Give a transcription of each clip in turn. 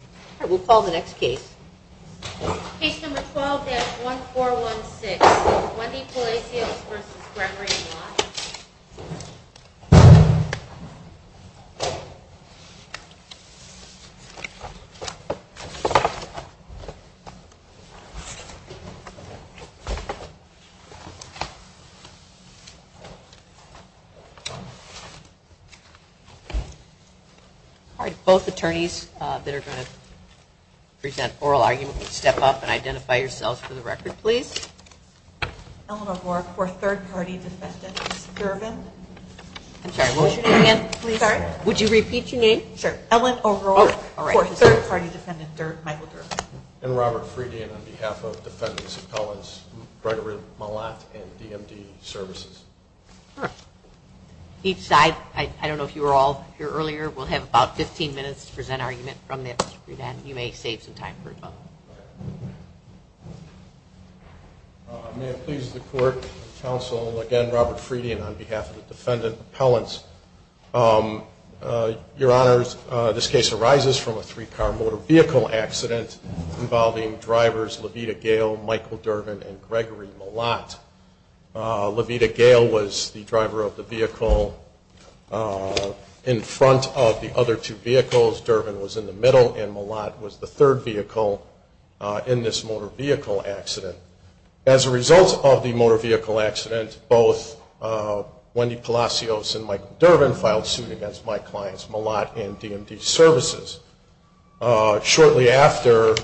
All right, we'll call the next case. Case number 12-1416, Wendy Palacios v. Gremery Mlot. All right, both attorneys that are going to present oral arguments, step up and identify yourselves for the record, please. Ellen O'Rourke for Third Party Defendant Michael Durbin. And Robert Friedian on behalf of Defendants Appellants Gregory Mlot and DMD Services. Each side, I don't know if you were all here earlier, will have about 15 minutes to present argument from this. You may save some time for rebuttal. May it please the court, counsel, again, Robert Friedian on behalf of the Defendant Appellants. Your Honors, this case arises from a three-car motor vehicle accident involving drivers Levita Gale, Michael Durbin, and Gregory Mlot. Levita Gale was the driver of the vehicle in front of the other two vehicles, Durbin was in the middle, and Mlot was the third vehicle in this motor vehicle accident. As a result of the motor vehicle accident, both Wendy Palacios and Michael Durbin filed suit against my clients, Mlot and DMD Services. Shortly after,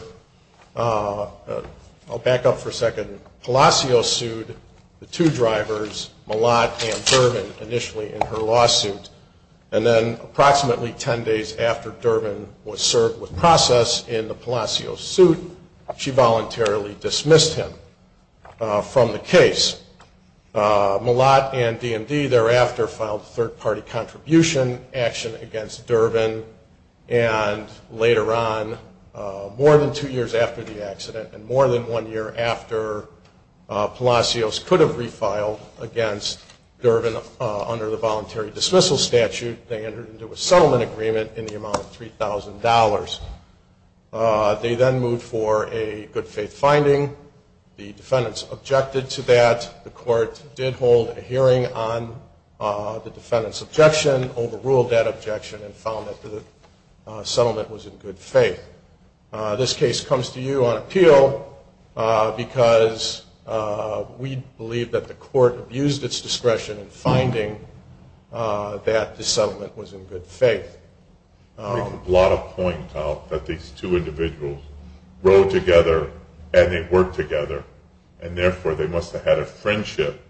I'll back up for a second, Palacios sued the two drivers, Mlot and Durbin, initially in her lawsuit. And then approximately 10 days after Durbin was served with process in the Palacios suit, she voluntarily dismissed him from the case. Mlot and DMD thereafter filed a third-party contribution action against Durbin, and later on, more than two years after the accident, and more than one year after Palacios could have refiled against Durbin under the voluntary dismissal statute, they entered into a settlement agreement in the amount of $3,000. They then moved for a good-faith finding. The defendants objected to that. The court did hold a hearing on the defendant's objection, overruled that objection, and found that the settlement was in good faith. This case comes to you on appeal because we believe that the court abused its discretion in finding that the settlement was in good faith. You could plot a point out that these two individuals rode together and they worked together, and therefore, they must have had a friendship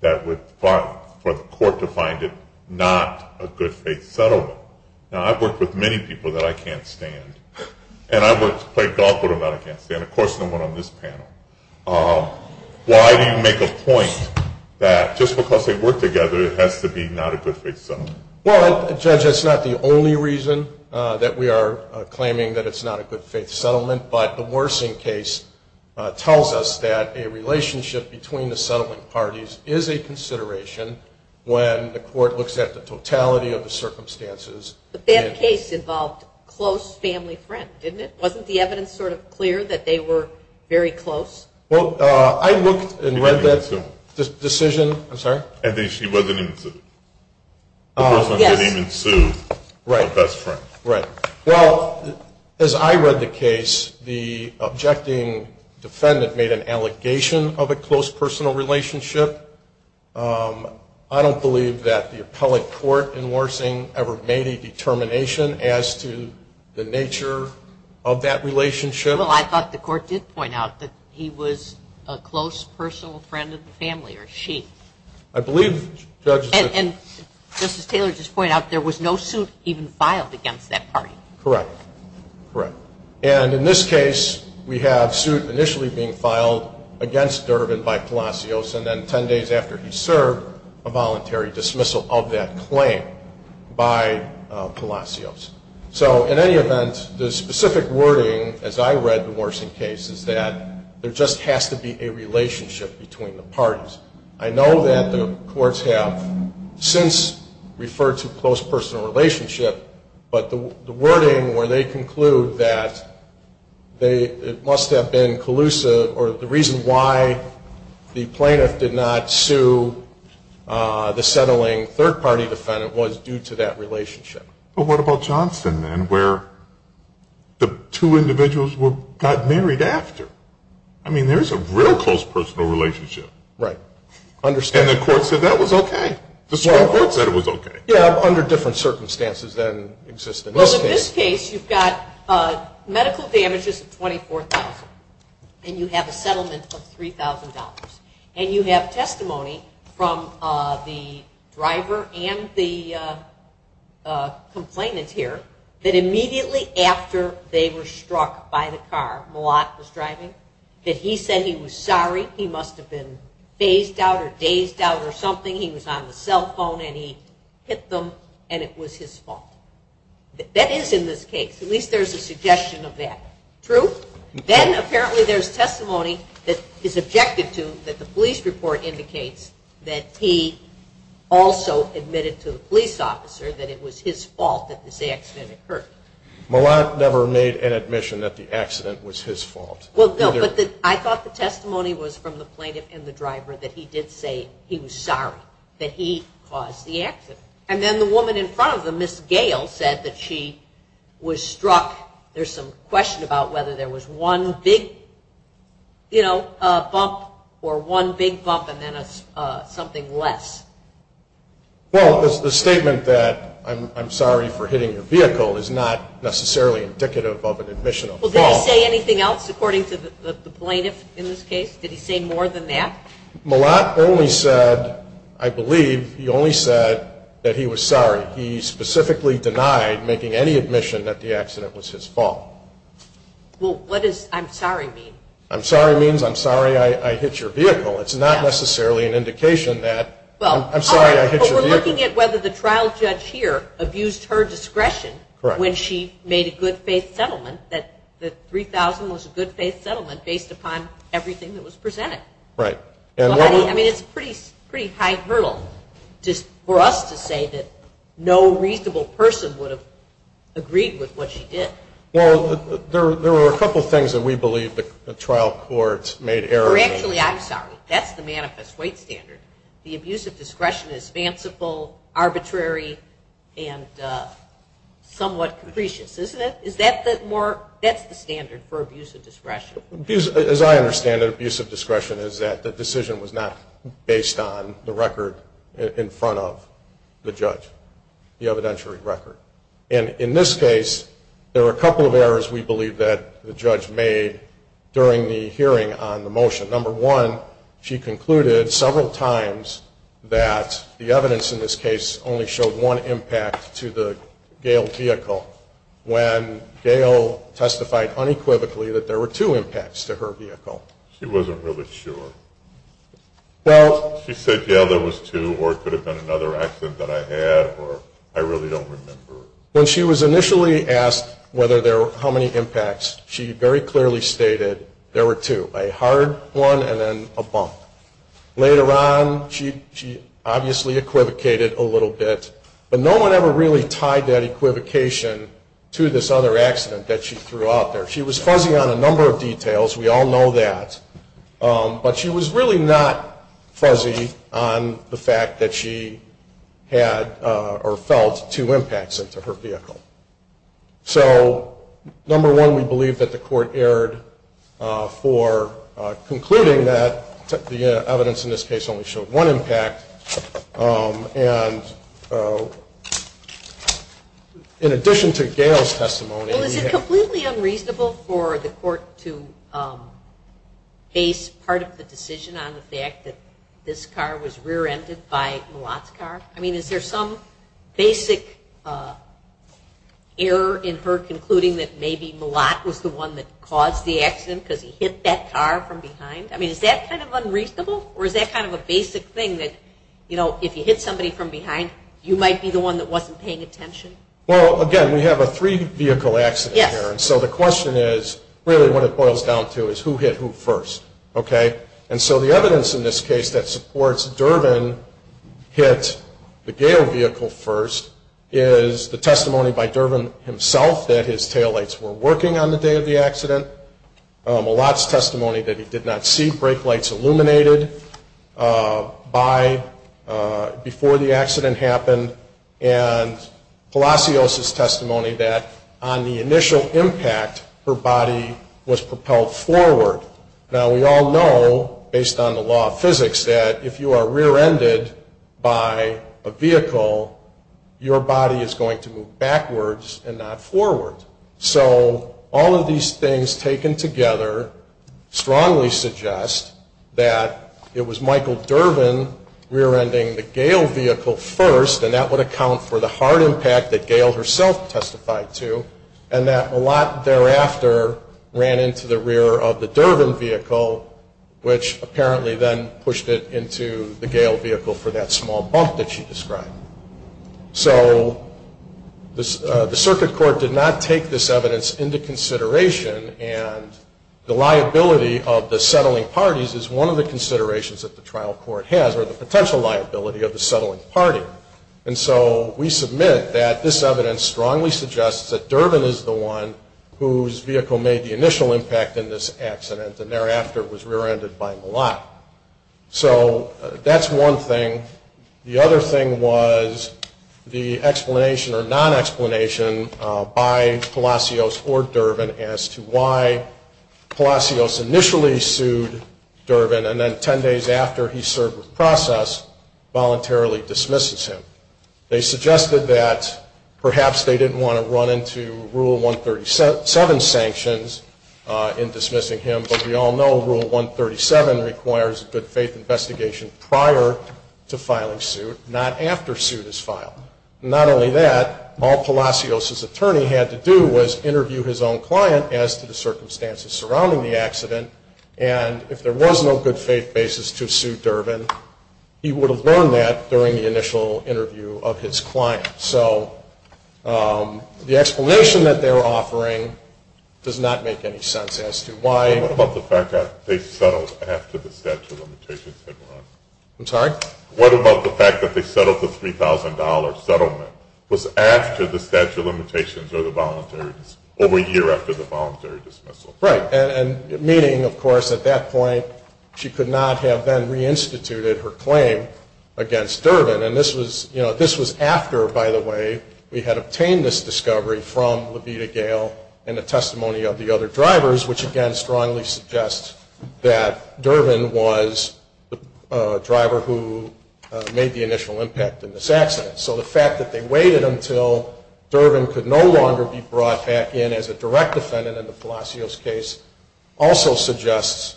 that would, for the court to find it not a good-faith settlement. Now, I've worked with many people that I can't stand, and I've played golf with them that I can't stand. Of course, no one on this panel. Why do you make a point that just because they work together, it has to be not a good-faith settlement? Well, Judge, that's not the only reason that we are claiming that it's not a good-faith settlement, but the Worsing case tells us that a relationship between the settlement parties is a consideration when the court looks at the totality of the circumstances. But that case involved close family friends, didn't it? Wasn't the evidence sort of clear that they were very close? Well, I looked and read that decision. I'm sorry? She wasn't even sued. The person didn't even sue her best friend. Right. Well, as I read the case, the objecting defendant made an allegation of a close personal relationship. I don't believe that the appellate court in Worsing ever made a determination as to the nature of that relationship. Well, I thought the court did point out that he was a close personal friend of the family, or she. I believe, Judge. And, Justice Taylor, just to point out, there was no suit even filed against that party. Correct. Correct. And in this case, we have suit initially being filed against Durbin by Palacios, and then 10 days after he served, a voluntary dismissal of that claim by Palacios. So, in any event, the specific wording, as I read the Worsing case, is that there just has to be a relationship between the parties. I know that the courts have since referred to close personal relationship, but the wording where they conclude that it must have been collusive or the reason why the plaintiff did not sue the settling third-party defendant was due to that relationship. But what about Johnson, then, where the two individuals got married after? I mean, there's a real close personal relationship. Right. And the court said that was okay. The Supreme Court said it was okay. Yeah, under different circumstances than exist in this case. Well, in this case, you've got medical damages of $24,000, and you have a settlement of $3,000. And you have testimony from the driver and the complainant here, that immediately after they were struck by the car Malat was driving, that he said he was sorry, he must have been phased out or dazed out or something. He was on the cell phone, and he hit them, and it was his fault. That is in this case. At least there's a suggestion of that. True? Then, apparently, there's testimony that is objected to, that the police report indicates that he also admitted to the police officer that it was his fault that this accident occurred. Malat never made an admission that the accident was his fault. Well, no, but I thought the testimony was from the plaintiff and the driver that he did say he was sorry that he caused the accident. And then the woman in front of them, Ms. Gale, said that she was struck. There's some question about whether there was one big bump or one big bump and then something less. Well, the statement that I'm sorry for hitting your vehicle is not necessarily indicative of an admission of fault. Well, did he say anything else according to the plaintiff in this case? Did he say more than that? Malat only said, I believe, he only said that he was sorry. He specifically denied making any admission that the accident was his fault. Well, what does I'm sorry mean? I'm sorry means I'm sorry I hit your vehicle. It's not necessarily an indication that I'm sorry I hit your vehicle. Well, we're looking at whether the trial judge here abused her discretion when she made a good-faith settlement, that the $3,000 was a good-faith settlement based upon everything that was presented. Right. I mean, it's a pretty high hurdle for us to say that no reasonable person would have agreed with what she did. Well, there were a couple of things that we believe the trial courts made errors in. Actually, I'm sorry. That's the manifest weight standard. The abuse of discretion is fanciful, arbitrary, and somewhat capricious, isn't it? That's the standard for abuse of discretion. As I understand it, abuse of discretion is that the decision was not based on the record in front of the judge, the evidentiary record. And in this case, there were a couple of errors we believe that the judge made during the hearing on the motion. Number one, she concluded several times that the evidence in this case only showed one impact to the Gail vehicle. When Gail testified unequivocally that there were two impacts to her vehicle. She wasn't really sure. She said, yeah, there was two, or it could have been another accident that I had, or I really don't remember. When she was initially asked how many impacts, she very clearly stated there were two, a hard one and then a bump. Later on, she obviously equivocated a little bit. But no one ever really tied that equivocation to this other accident that she threw out there. She was fuzzy on a number of details. We all know that. But she was really not fuzzy on the fact that she had or felt two impacts into her vehicle. So number one, we believe that the court erred for concluding that the evidence in this case only showed one impact. And in addition to Gail's testimony. Well, is it completely unreasonable for the court to base part of the decision on the fact that this car was rear-ended by Malott's car? I mean, is there some basic error in her concluding that maybe Malott was the one that caused the accident because he hit that car from behind? I mean, is that kind of unreasonable? Or is that kind of a basic thing that, you know, if you hit somebody from behind, you might be the one that wasn't paying attention? Well, again, we have a three-vehicle accident here. And so the question is really what it boils down to is who hit who first. Okay? And so the evidence in this case that supports Durbin hit the Gail vehicle first is the testimony by Durbin himself that his taillights were working on the day of the accident. Malott's testimony that he did not see brake lights illuminated before the accident happened. And Palacios' testimony that on the initial impact, her body was propelled forward. Now, we all know, based on the law of physics, that if you are rear-ended by a vehicle, your body is going to move backwards and not forward. So all of these things taken together strongly suggest that it was Michael Durbin rear-ending the Gail vehicle first, and that would account for the hard impact that Gail herself testified to, and that Malott thereafter ran into the rear of the Durbin vehicle, which apparently then pushed it into the Gail vehicle for that small bump that she described. So the circuit court did not take this evidence into consideration, and the liability of the settling parties is one of the considerations that the trial court has, or the potential liability of the settling party. And so we submit that this evidence strongly suggests that Durbin is the one whose vehicle made the initial impact in this accident and thereafter was rear-ended by Malott. So that's one thing. The other thing was the explanation or non-explanation by Palacios or Durbin as to why Palacios initially sued Durbin and then 10 days after he served with process voluntarily dismisses him. They suggested that perhaps they didn't want to run into Rule 137 sanctions in dismissing him, but we all know Rule 137 requires a good-faith investigation prior to filing suit, not after suit is filed. Not only that, all Palacios' attorney had to do was interview his own client as to the circumstances surrounding the accident, and if there was no good-faith basis to sue Durbin, he would have learned that during the initial interview of his client. So the explanation that they were offering does not make any sense as to why. What about the fact that they settled after the statute of limitations had run? I'm sorry? What about the fact that they settled the $3,000 settlement was after the statute of limitations or a year after the voluntary dismissal? Right. And meaning, of course, at that point she could not have then reinstituted her claim against Durbin. And this was after, by the way, we had obtained this discovery from Levita Gayle and the testimony of the other drivers, which again strongly suggests that Durbin was the driver who made the initial impact in this accident. So the fact that they waited until Durbin could no longer be brought back in as a direct defendant in the Palacios case also suggests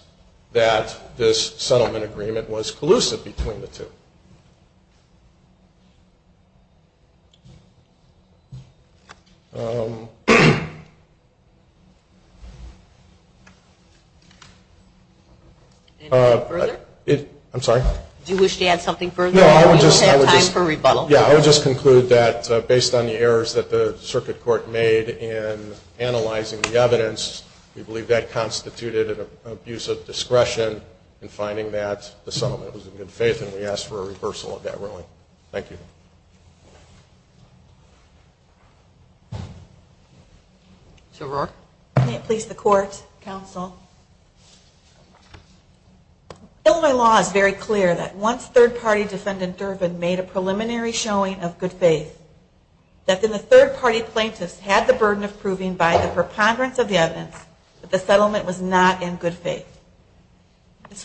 that this settlement agreement was collusive between the two. Any further? I'm sorry? Do you wish to add something further? No, I would just conclude that based on the errors that the circuit court made in analyzing the evidence, we believe that constituted an abuse of discretion in finding that the settlement was in good faith, and we ask for a reversal of that ruling. Ms. O'Rourke. May it please the Court, Counsel. Illinois law is very clear that once third-party defendant Durbin made a preliminary showing of good faith, that then the third-party plaintiffs had the burden of proving by the preponderance of the evidence that the settlement was not in good faith.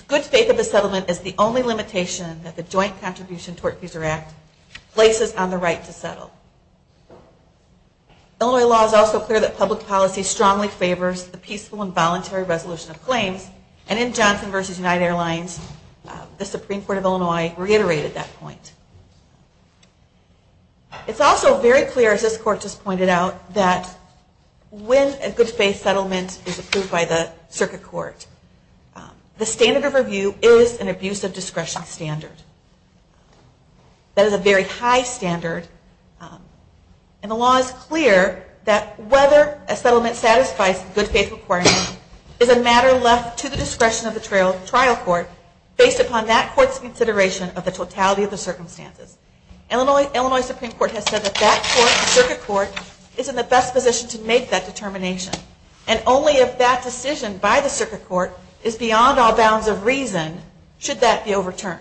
Good faith of the settlement is the only limitation that the Joint Contribution Tort Procedure Act places on the right to settle. Illinois law is also clear that public policy strongly favors the peaceful and voluntary resolution of claims, and in Johnson v. United Airlines, the Supreme Court of Illinois reiterated that point. It's also very clear, as this Court just pointed out, that when a good faith settlement is approved by the circuit court, the standard of review is an abuse of discretion standard. That is a very high standard, and the law is clear that whether a settlement satisfies the good faith requirement is a matter left to the discretion of the trial court based upon that court's consideration of the totality of the circumstances. Illinois Supreme Court has said that that circuit court is in the best position to make that determination, and only if that decision by the circuit court is beyond all bounds of reason should that be overturned.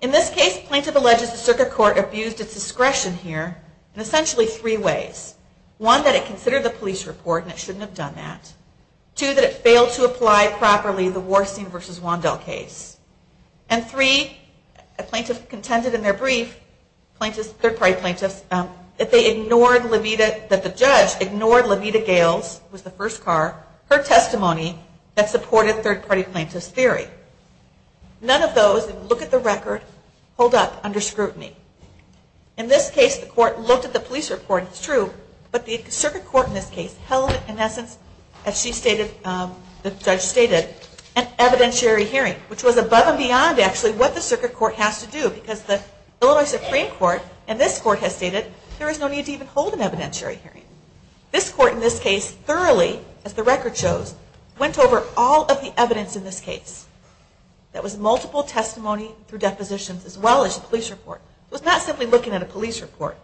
In this case, plaintiff alleges the circuit court abused its discretion here in essentially three ways. One, that it considered the police report, and it shouldn't have done that. Two, that it failed to apply properly the Warsing v. Wandel case. And three, a plaintiff contended in their brief, third-party plaintiffs, that the judge ignored Levita Gales, who was the first car, her testimony that supported third-party plaintiffs' theory. None of those, if you look at the record, hold up under scrutiny. In this case, the court looked at the police report. It's true. But the circuit court in this case held, in essence, as the judge stated, an evidentiary hearing, which was above and beyond, actually, what the circuit court has to do, because the Illinois Supreme Court, in this court, has stated there is no need to even hold an evidentiary hearing. This court, in this case, thoroughly, as the record shows, went over all of the evidence in this case. That was multiple testimony through depositions, as well as the police report. It was not simply looking at a police report,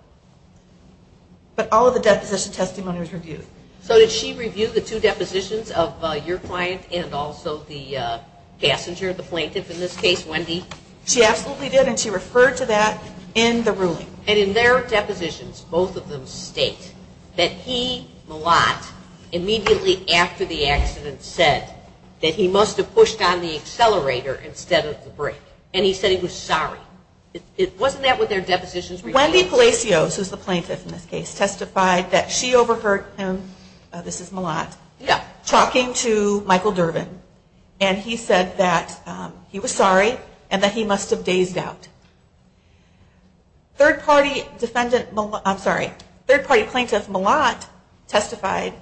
but all of the deposition testimonies reviewed. So did she review the two depositions of your client and also the passenger, the plaintiff in this case, Wendy? She absolutely did, and she referred to that in the ruling. And in their depositions, both of them state that he, Malott, immediately after the accident, said that he must have pushed on the accelerator instead of the brake, and he said he was sorry. Wasn't that what their depositions revealed? Wendy Palacios, who is the plaintiff in this case, testified that she overheard him, this is Malott, talking to Michael Durbin, and he said that he was sorry and that he must have dazed out. Third-party plaintiff Malott testified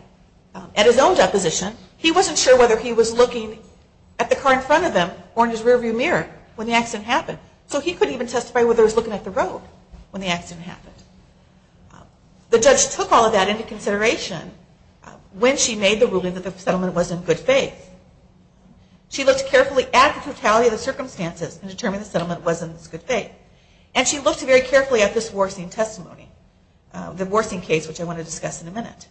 at his own deposition. He wasn't sure whether he was looking at the car in front of him or in his rearview mirror when the accident happened. So he couldn't even testify whether he was looking at the road when the accident happened. The judge took all of that into consideration when she made the ruling that the settlement was in good faith. She looked carefully at the totality of the circumstances and determined the settlement was in good faith. And she looked very carefully at this Worsing testimony, the Worsing case, which I want to discuss in a minute.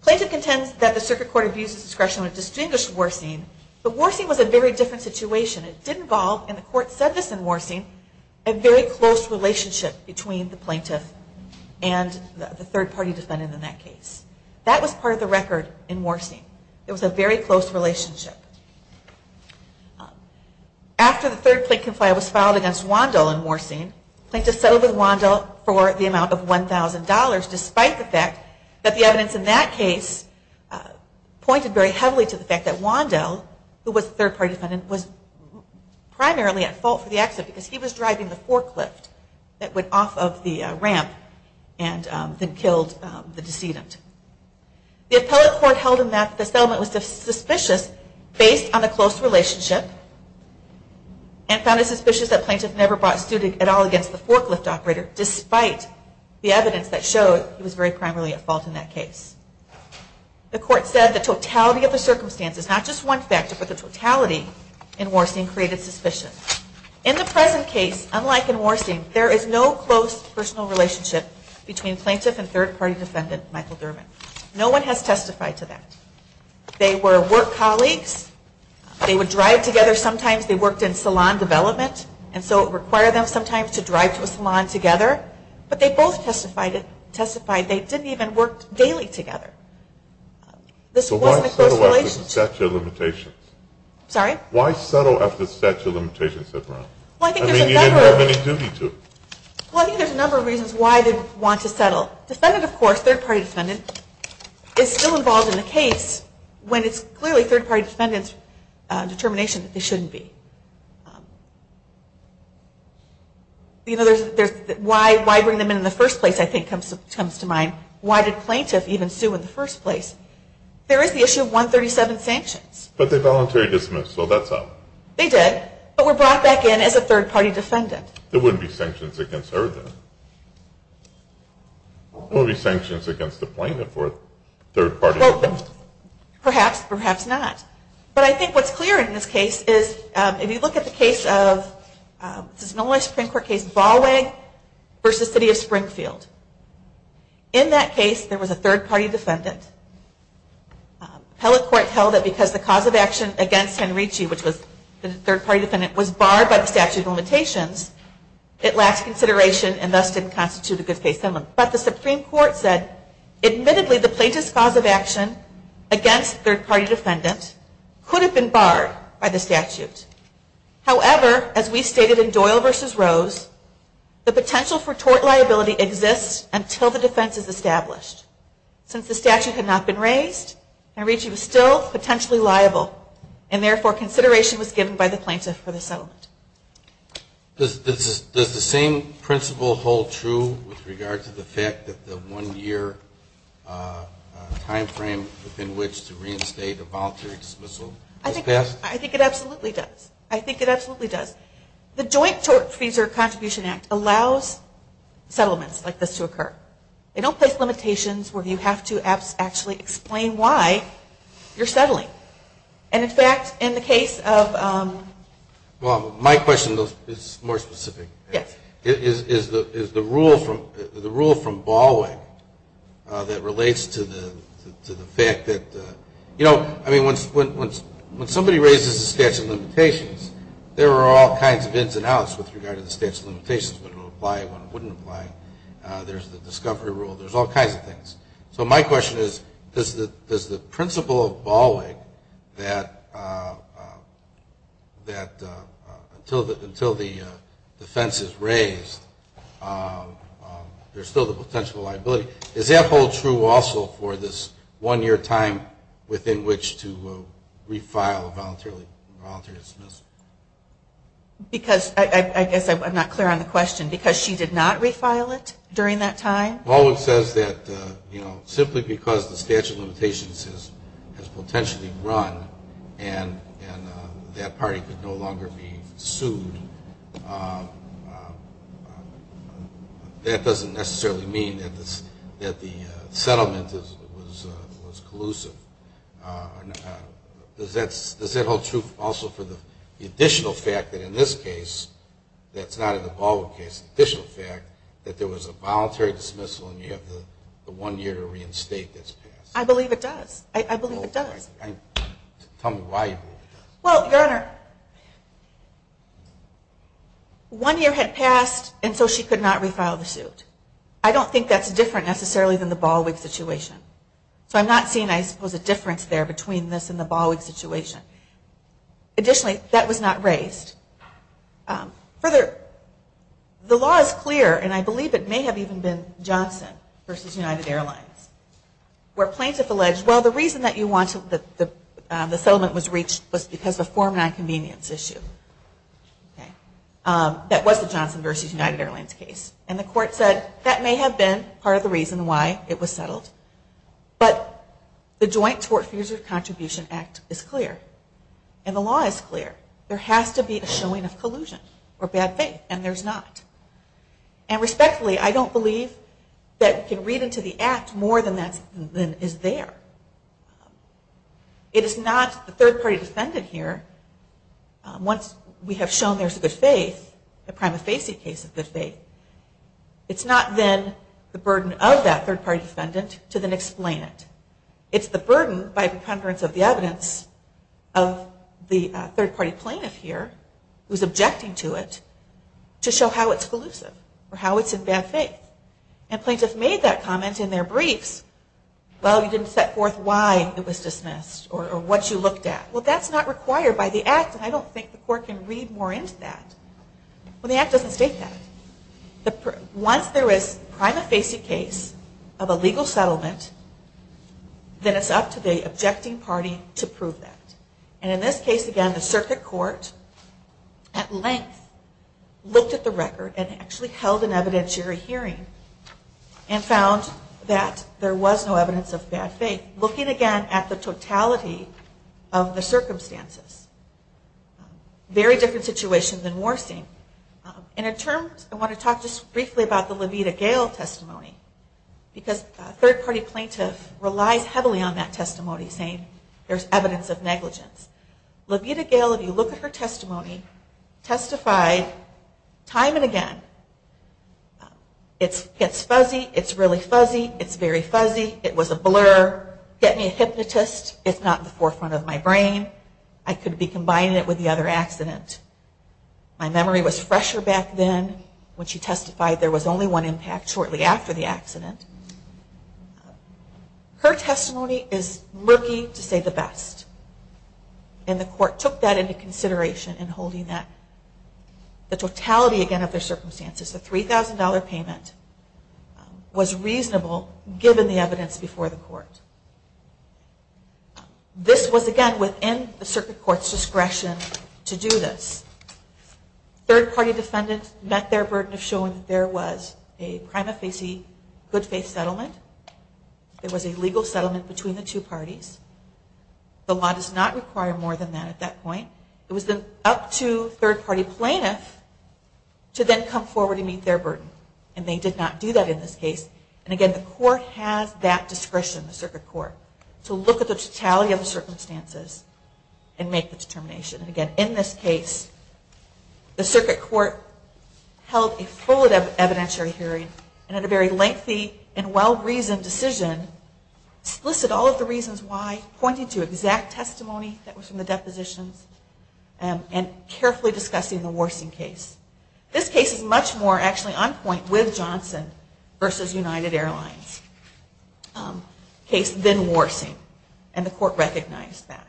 The plaintiff contends that the circuit court abused its discretion when it distinguished Worsing, but Worsing was a very different situation. It did involve, and the court said this in Worsing, a very close relationship between the plaintiff and the third-party defendant in that case. That was part of the record in Worsing. It was a very close relationship. After the third complaint was filed against Wandel in Worsing, the plaintiff settled with Wandel for the amount of $1,000, despite the fact that the evidence in that case pointed very heavily to the fact that Wandel, who was the third-party defendant, was primarily at fault for the accident because he was driving the forklift that went off of the ramp and then killed the decedent. The appellate court held in that the settlement was suspicious based on the close relationship and found it suspicious that the plaintiff never brought suit at all against the forklift operator, despite the evidence that showed he was very primarily at fault in that case. The court said the totality of the circumstances, not just one factor, but the totality in Worsing created suspicion. In the present case, unlike in Worsing, there is no close personal relationship between plaintiff and third-party defendant Michael Durbin. No one has testified to that. They were work colleagues. They would drive together sometimes. They worked in salon development, and so it required them sometimes to drive to a salon together. But they both testified they didn't even work daily together. This wasn't a close relationship. So why settle after the statute of limitations? Sorry? Why settle after the statute of limitations? I mean, you didn't have any duty to. Well, I think there's a number of reasons why they'd want to settle. Defendant, of course, third-party defendant, is still involved in the case when it's clearly third-party defendant's determination that they shouldn't be. Why bring them in in the first place, I think, comes to mind. Why did plaintiff even sue in the first place? There is the issue of 137 sanctions. But they voluntarily dismissed, so that's up. They did, but were brought back in as a third-party defendant. There wouldn't be sanctions against her then. There wouldn't be sanctions against the plaintiff for a third-party defendant. Perhaps, perhaps not. But I think what's clear in this case is, if you look at the case of, this is an only Supreme Court case, Ballweg versus City of Springfield. In that case, there was a third-party defendant. Appellate court held that because the cause of action against Henrici, which was the third-party defendant, was barred by the statute of limitations, it lacked consideration and thus didn't constitute a good case. But the Supreme Court said, admittedly, the plaintiff's cause of action against third-party defendant could have been barred by the statute. However, as we stated in Doyle versus Rose, the potential for tort liability exists until the defense is established. Since the statute had not been raised, Henrici was still potentially liable and therefore consideration was given by the plaintiff for the settlement. Does the same principle hold true with regard to the fact that the one-year time frame within which to reinstate a voluntary dismissal has passed? I think it absolutely does. I think it absolutely does. The Joint Tort Fees or Contribution Act allows settlements like this to occur. They don't place limitations where you have to actually explain why you're settling. And, in fact, in the case of... Well, my question is more specific. Yes. Is the rule from Baldwin that relates to the fact that, you know, I mean, when somebody raises the statute of limitations, there are all kinds of ins and outs with regard to the statute of limitations, when it will apply, when it wouldn't apply. There's the discovery rule. There's all kinds of things. So my question is, does the principle of Baldwin that until the defense is raised, there's still the potential liability, does that hold true also for this one-year time within which to refile a voluntary dismissal? Because I guess I'm not clear on the question. Because she did not refile it during that time? Baldwin says that, you know, simply because the statute of limitations has potentially run and that party could no longer be sued, that doesn't necessarily mean that the settlement was collusive. Does that hold true also for the additional fact that in this case, that's not in the Baldwin case, the additional fact that there was a voluntary dismissal and you have the one-year to reinstate that's passed? I believe it does. I believe it does. Tell me why you believe it does. Well, Your Honor, one year had passed and so she could not refile the suit. I don't think that's different necessarily than the Baldwin situation. So I'm not seeing, I suppose, a difference there between this and the Baldwin situation. Additionally, that was not raised. Further, the law is clear, and I believe it may have even been Johnson v. United Airlines, where plaintiffs alleged, well, the reason that the settlement was reached was because of a form of nonconvenience issue. That was the Johnson v. United Airlines case. And the court said that may have been part of the reason why it was settled, but the Joint Tort Fears of Contribution Act is clear, and the law is clear. There has to be a showing of collusion or bad faith, and there's not. And respectfully, I don't believe that we can read into the act more than is there. It is not the third-party defendant here, once we have shown there's a good faith, the prima facie case of good faith, it's not then the burden of that third-party defendant to then explain it. It's the burden, by preponderance of the evidence, of the third-party plaintiff here, who's objecting to it, to show how it's collusive or how it's in bad faith. And plaintiffs made that comment in their briefs. Well, you didn't set forth why it was dismissed or what you looked at. Well, that's not required by the act, and I don't think the court can read more into that. Well, the act doesn't state that. Once there is a prima facie case of a legal settlement, then it's up to the objecting party to prove that. And in this case, again, the circuit court, at length, looked at the record and actually held an evidentiary hearing and found that there was no evidence of bad faith. Looking again at the totality of the circumstances. Very different situation than Warsing. And in terms, I want to talk just briefly about the Levita Gayle testimony, because a third-party plaintiff relies heavily on that testimony, saying there's evidence of negligence. Levita Gayle, if you look at her testimony, testified time and again, it's fuzzy, it's really fuzzy, it's very fuzzy, it was a blur, get me a hypnotist, it's not in the forefront of my brain, I could be combining it with the other accident. My memory was fresher back then when she testified there was only one impact shortly after the accident. Her testimony is murky, to say the best. And the court took that into consideration in holding that. The totality, again, of the circumstances, the $3,000 payment, was reasonable given the evidence before the court. This was, again, within the circuit court's discretion to do this. Third-party defendants met their burden of showing that there was a prima facie good faith settlement, there was a legal settlement between the two parties. The law does not require more than that at that point. It was then up to third-party plaintiffs to then come forward and meet their burden. And they did not do that in this case. And again, the court has that discretion, the circuit court, to look at the totality of the circumstances and make the determination. And again, in this case, the circuit court held a full evidentiary hearing and had a very lengthy and well-reasoned decision, listed all of the reasons why, pointing to exact testimony that was from the depositions, and carefully discussing the Warsing case. This case is much more actually on point with Johnson versus United Airlines case than Warsing, and the court recognized that.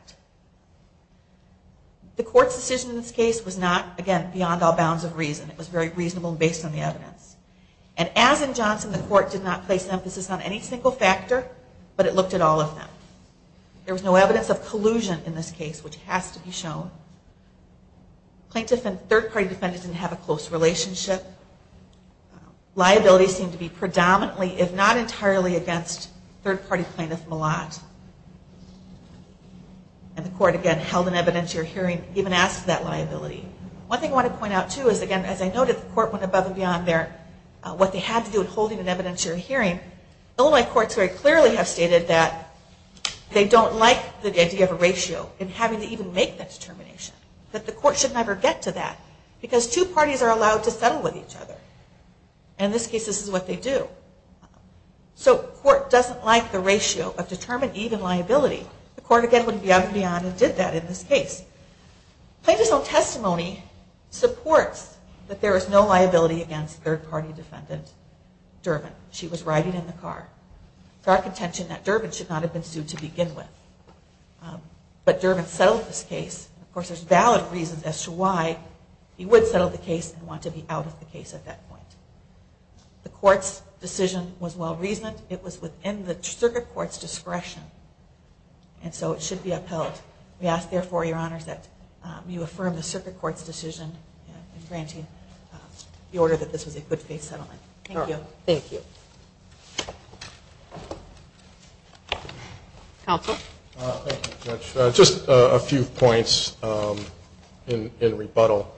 The court's decision in this case was not, again, beyond all bounds of reason. It was very reasonable based on the evidence. And as in Johnson, the court did not place emphasis on any single factor, but it looked at all of them. There was no evidence of collusion in this case, which has to be shown. Plaintiffs and third-party defendants didn't have a close relationship. Liabilities seemed to be predominantly, if not entirely, against third-party plaintiff Malott. And the court, again, held an evidentiary hearing, even asked for that liability. One thing I want to point out, too, is, again, as I noted, the court went above and beyond there. What they had to do in holding an evidentiary hearing, Illinois courts very clearly have stated that they don't like the idea of a ratio and having to even make that determination, that the court should never get to that because two parties are allowed to settle with each other. And in this case, this is what they do. So court doesn't like the ratio of determined even liability. The court, again, went beyond and beyond and did that in this case. Plaintiffs' own testimony supports that there is no liability against third-party defendant Durbin. She was riding in the car. It's our contention that Durbin should not have been sued to begin with. But Durbin settled this case. Of course, there's valid reasons as to why he would settle the case and want to be out of the case at that point. The court's decision was well-reasoned. It was within the circuit court's discretion, and so it should be upheld. We ask, therefore, Your Honors, that you affirm the circuit court's decision in granting the order that this was a good-faith settlement. Thank you. Thank you. Counsel? Thank you, Judge. Just a few points in rebuttal.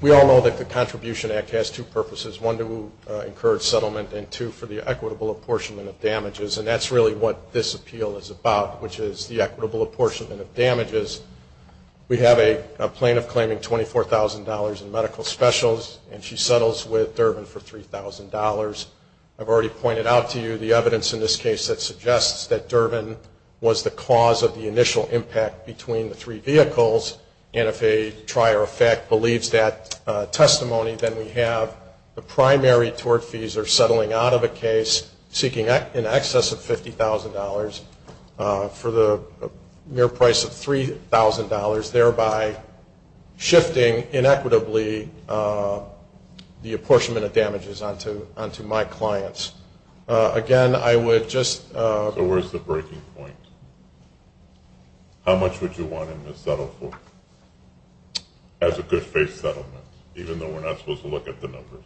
We all know that the Contribution Act has two purposes, one to encourage settlement and two for the equitable apportionment of damages, and that's really what this appeal is about, which is the equitable apportionment of damages. We have a plaintiff claiming $24,000 in medical specials, and she settles with Durbin for $3,000. I've already pointed out to you the evidence in this case that suggests that Durbin was the cause of the initial impact between the three vehicles, and if a trier of fact believes that testimony, then we have the primary tort fees are settling out of a case, seeking an excess of $50,000 for the mere price of $3,000, thereby shifting inequitably the apportionment of damages onto my clients. Again, I would just ---- So where's the breaking point? How much would you want him to settle for as a good-faith settlement, even though we're not supposed to look at the numbers?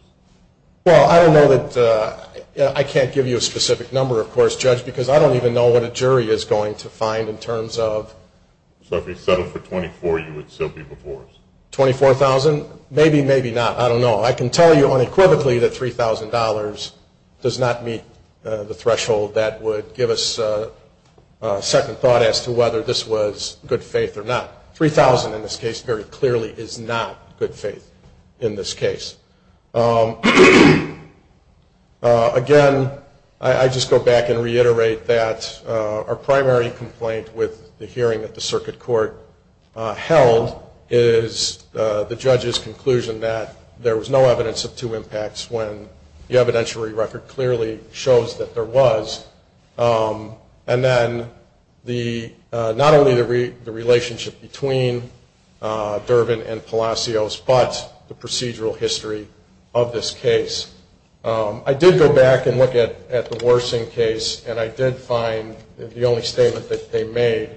Well, I don't know that I can't give you a specific number, of course, Judge, because I don't even know what a jury is going to find in terms of ---- So if he settled for $24,000, you would still be before us? $24,000? Maybe, maybe not. I don't know. I can tell you unequivocally that $3,000 does not meet the threshold that would give us a second thought as to whether this was good faith or not. $3,000 in this case very clearly is not good faith in this case. Again, I just go back and reiterate that our primary complaint with the hearing that the circuit court held is the judge's conclusion that there was no evidence of two impacts when the evidentiary record clearly shows that there was. And then not only the relationship between Durbin and Palacios, but the procedural history of this case. I did go back and look at the Worsing case, and I did find the only statement that they made,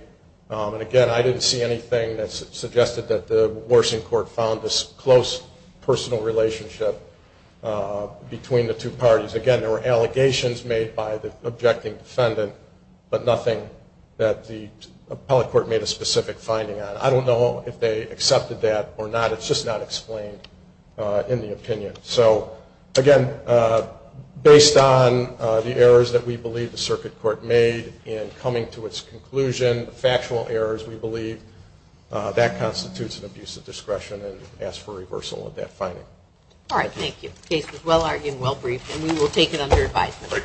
and again, I didn't see anything that suggested that the Worsing court found this close personal relationship between the two parties. Again, there were allegations made by the objecting defendant, but nothing that the appellate court made a specific finding on. I don't know if they accepted that or not. It's just not explained in the opinion. So, again, based on the errors that we believe the circuit court made in coming to its conclusion, the factual errors we believe, that constitutes an abuse of discretion and ask for reversal of that finding. All right, thank you. The case was well-argued and well-briefed, and we will take it under advisement.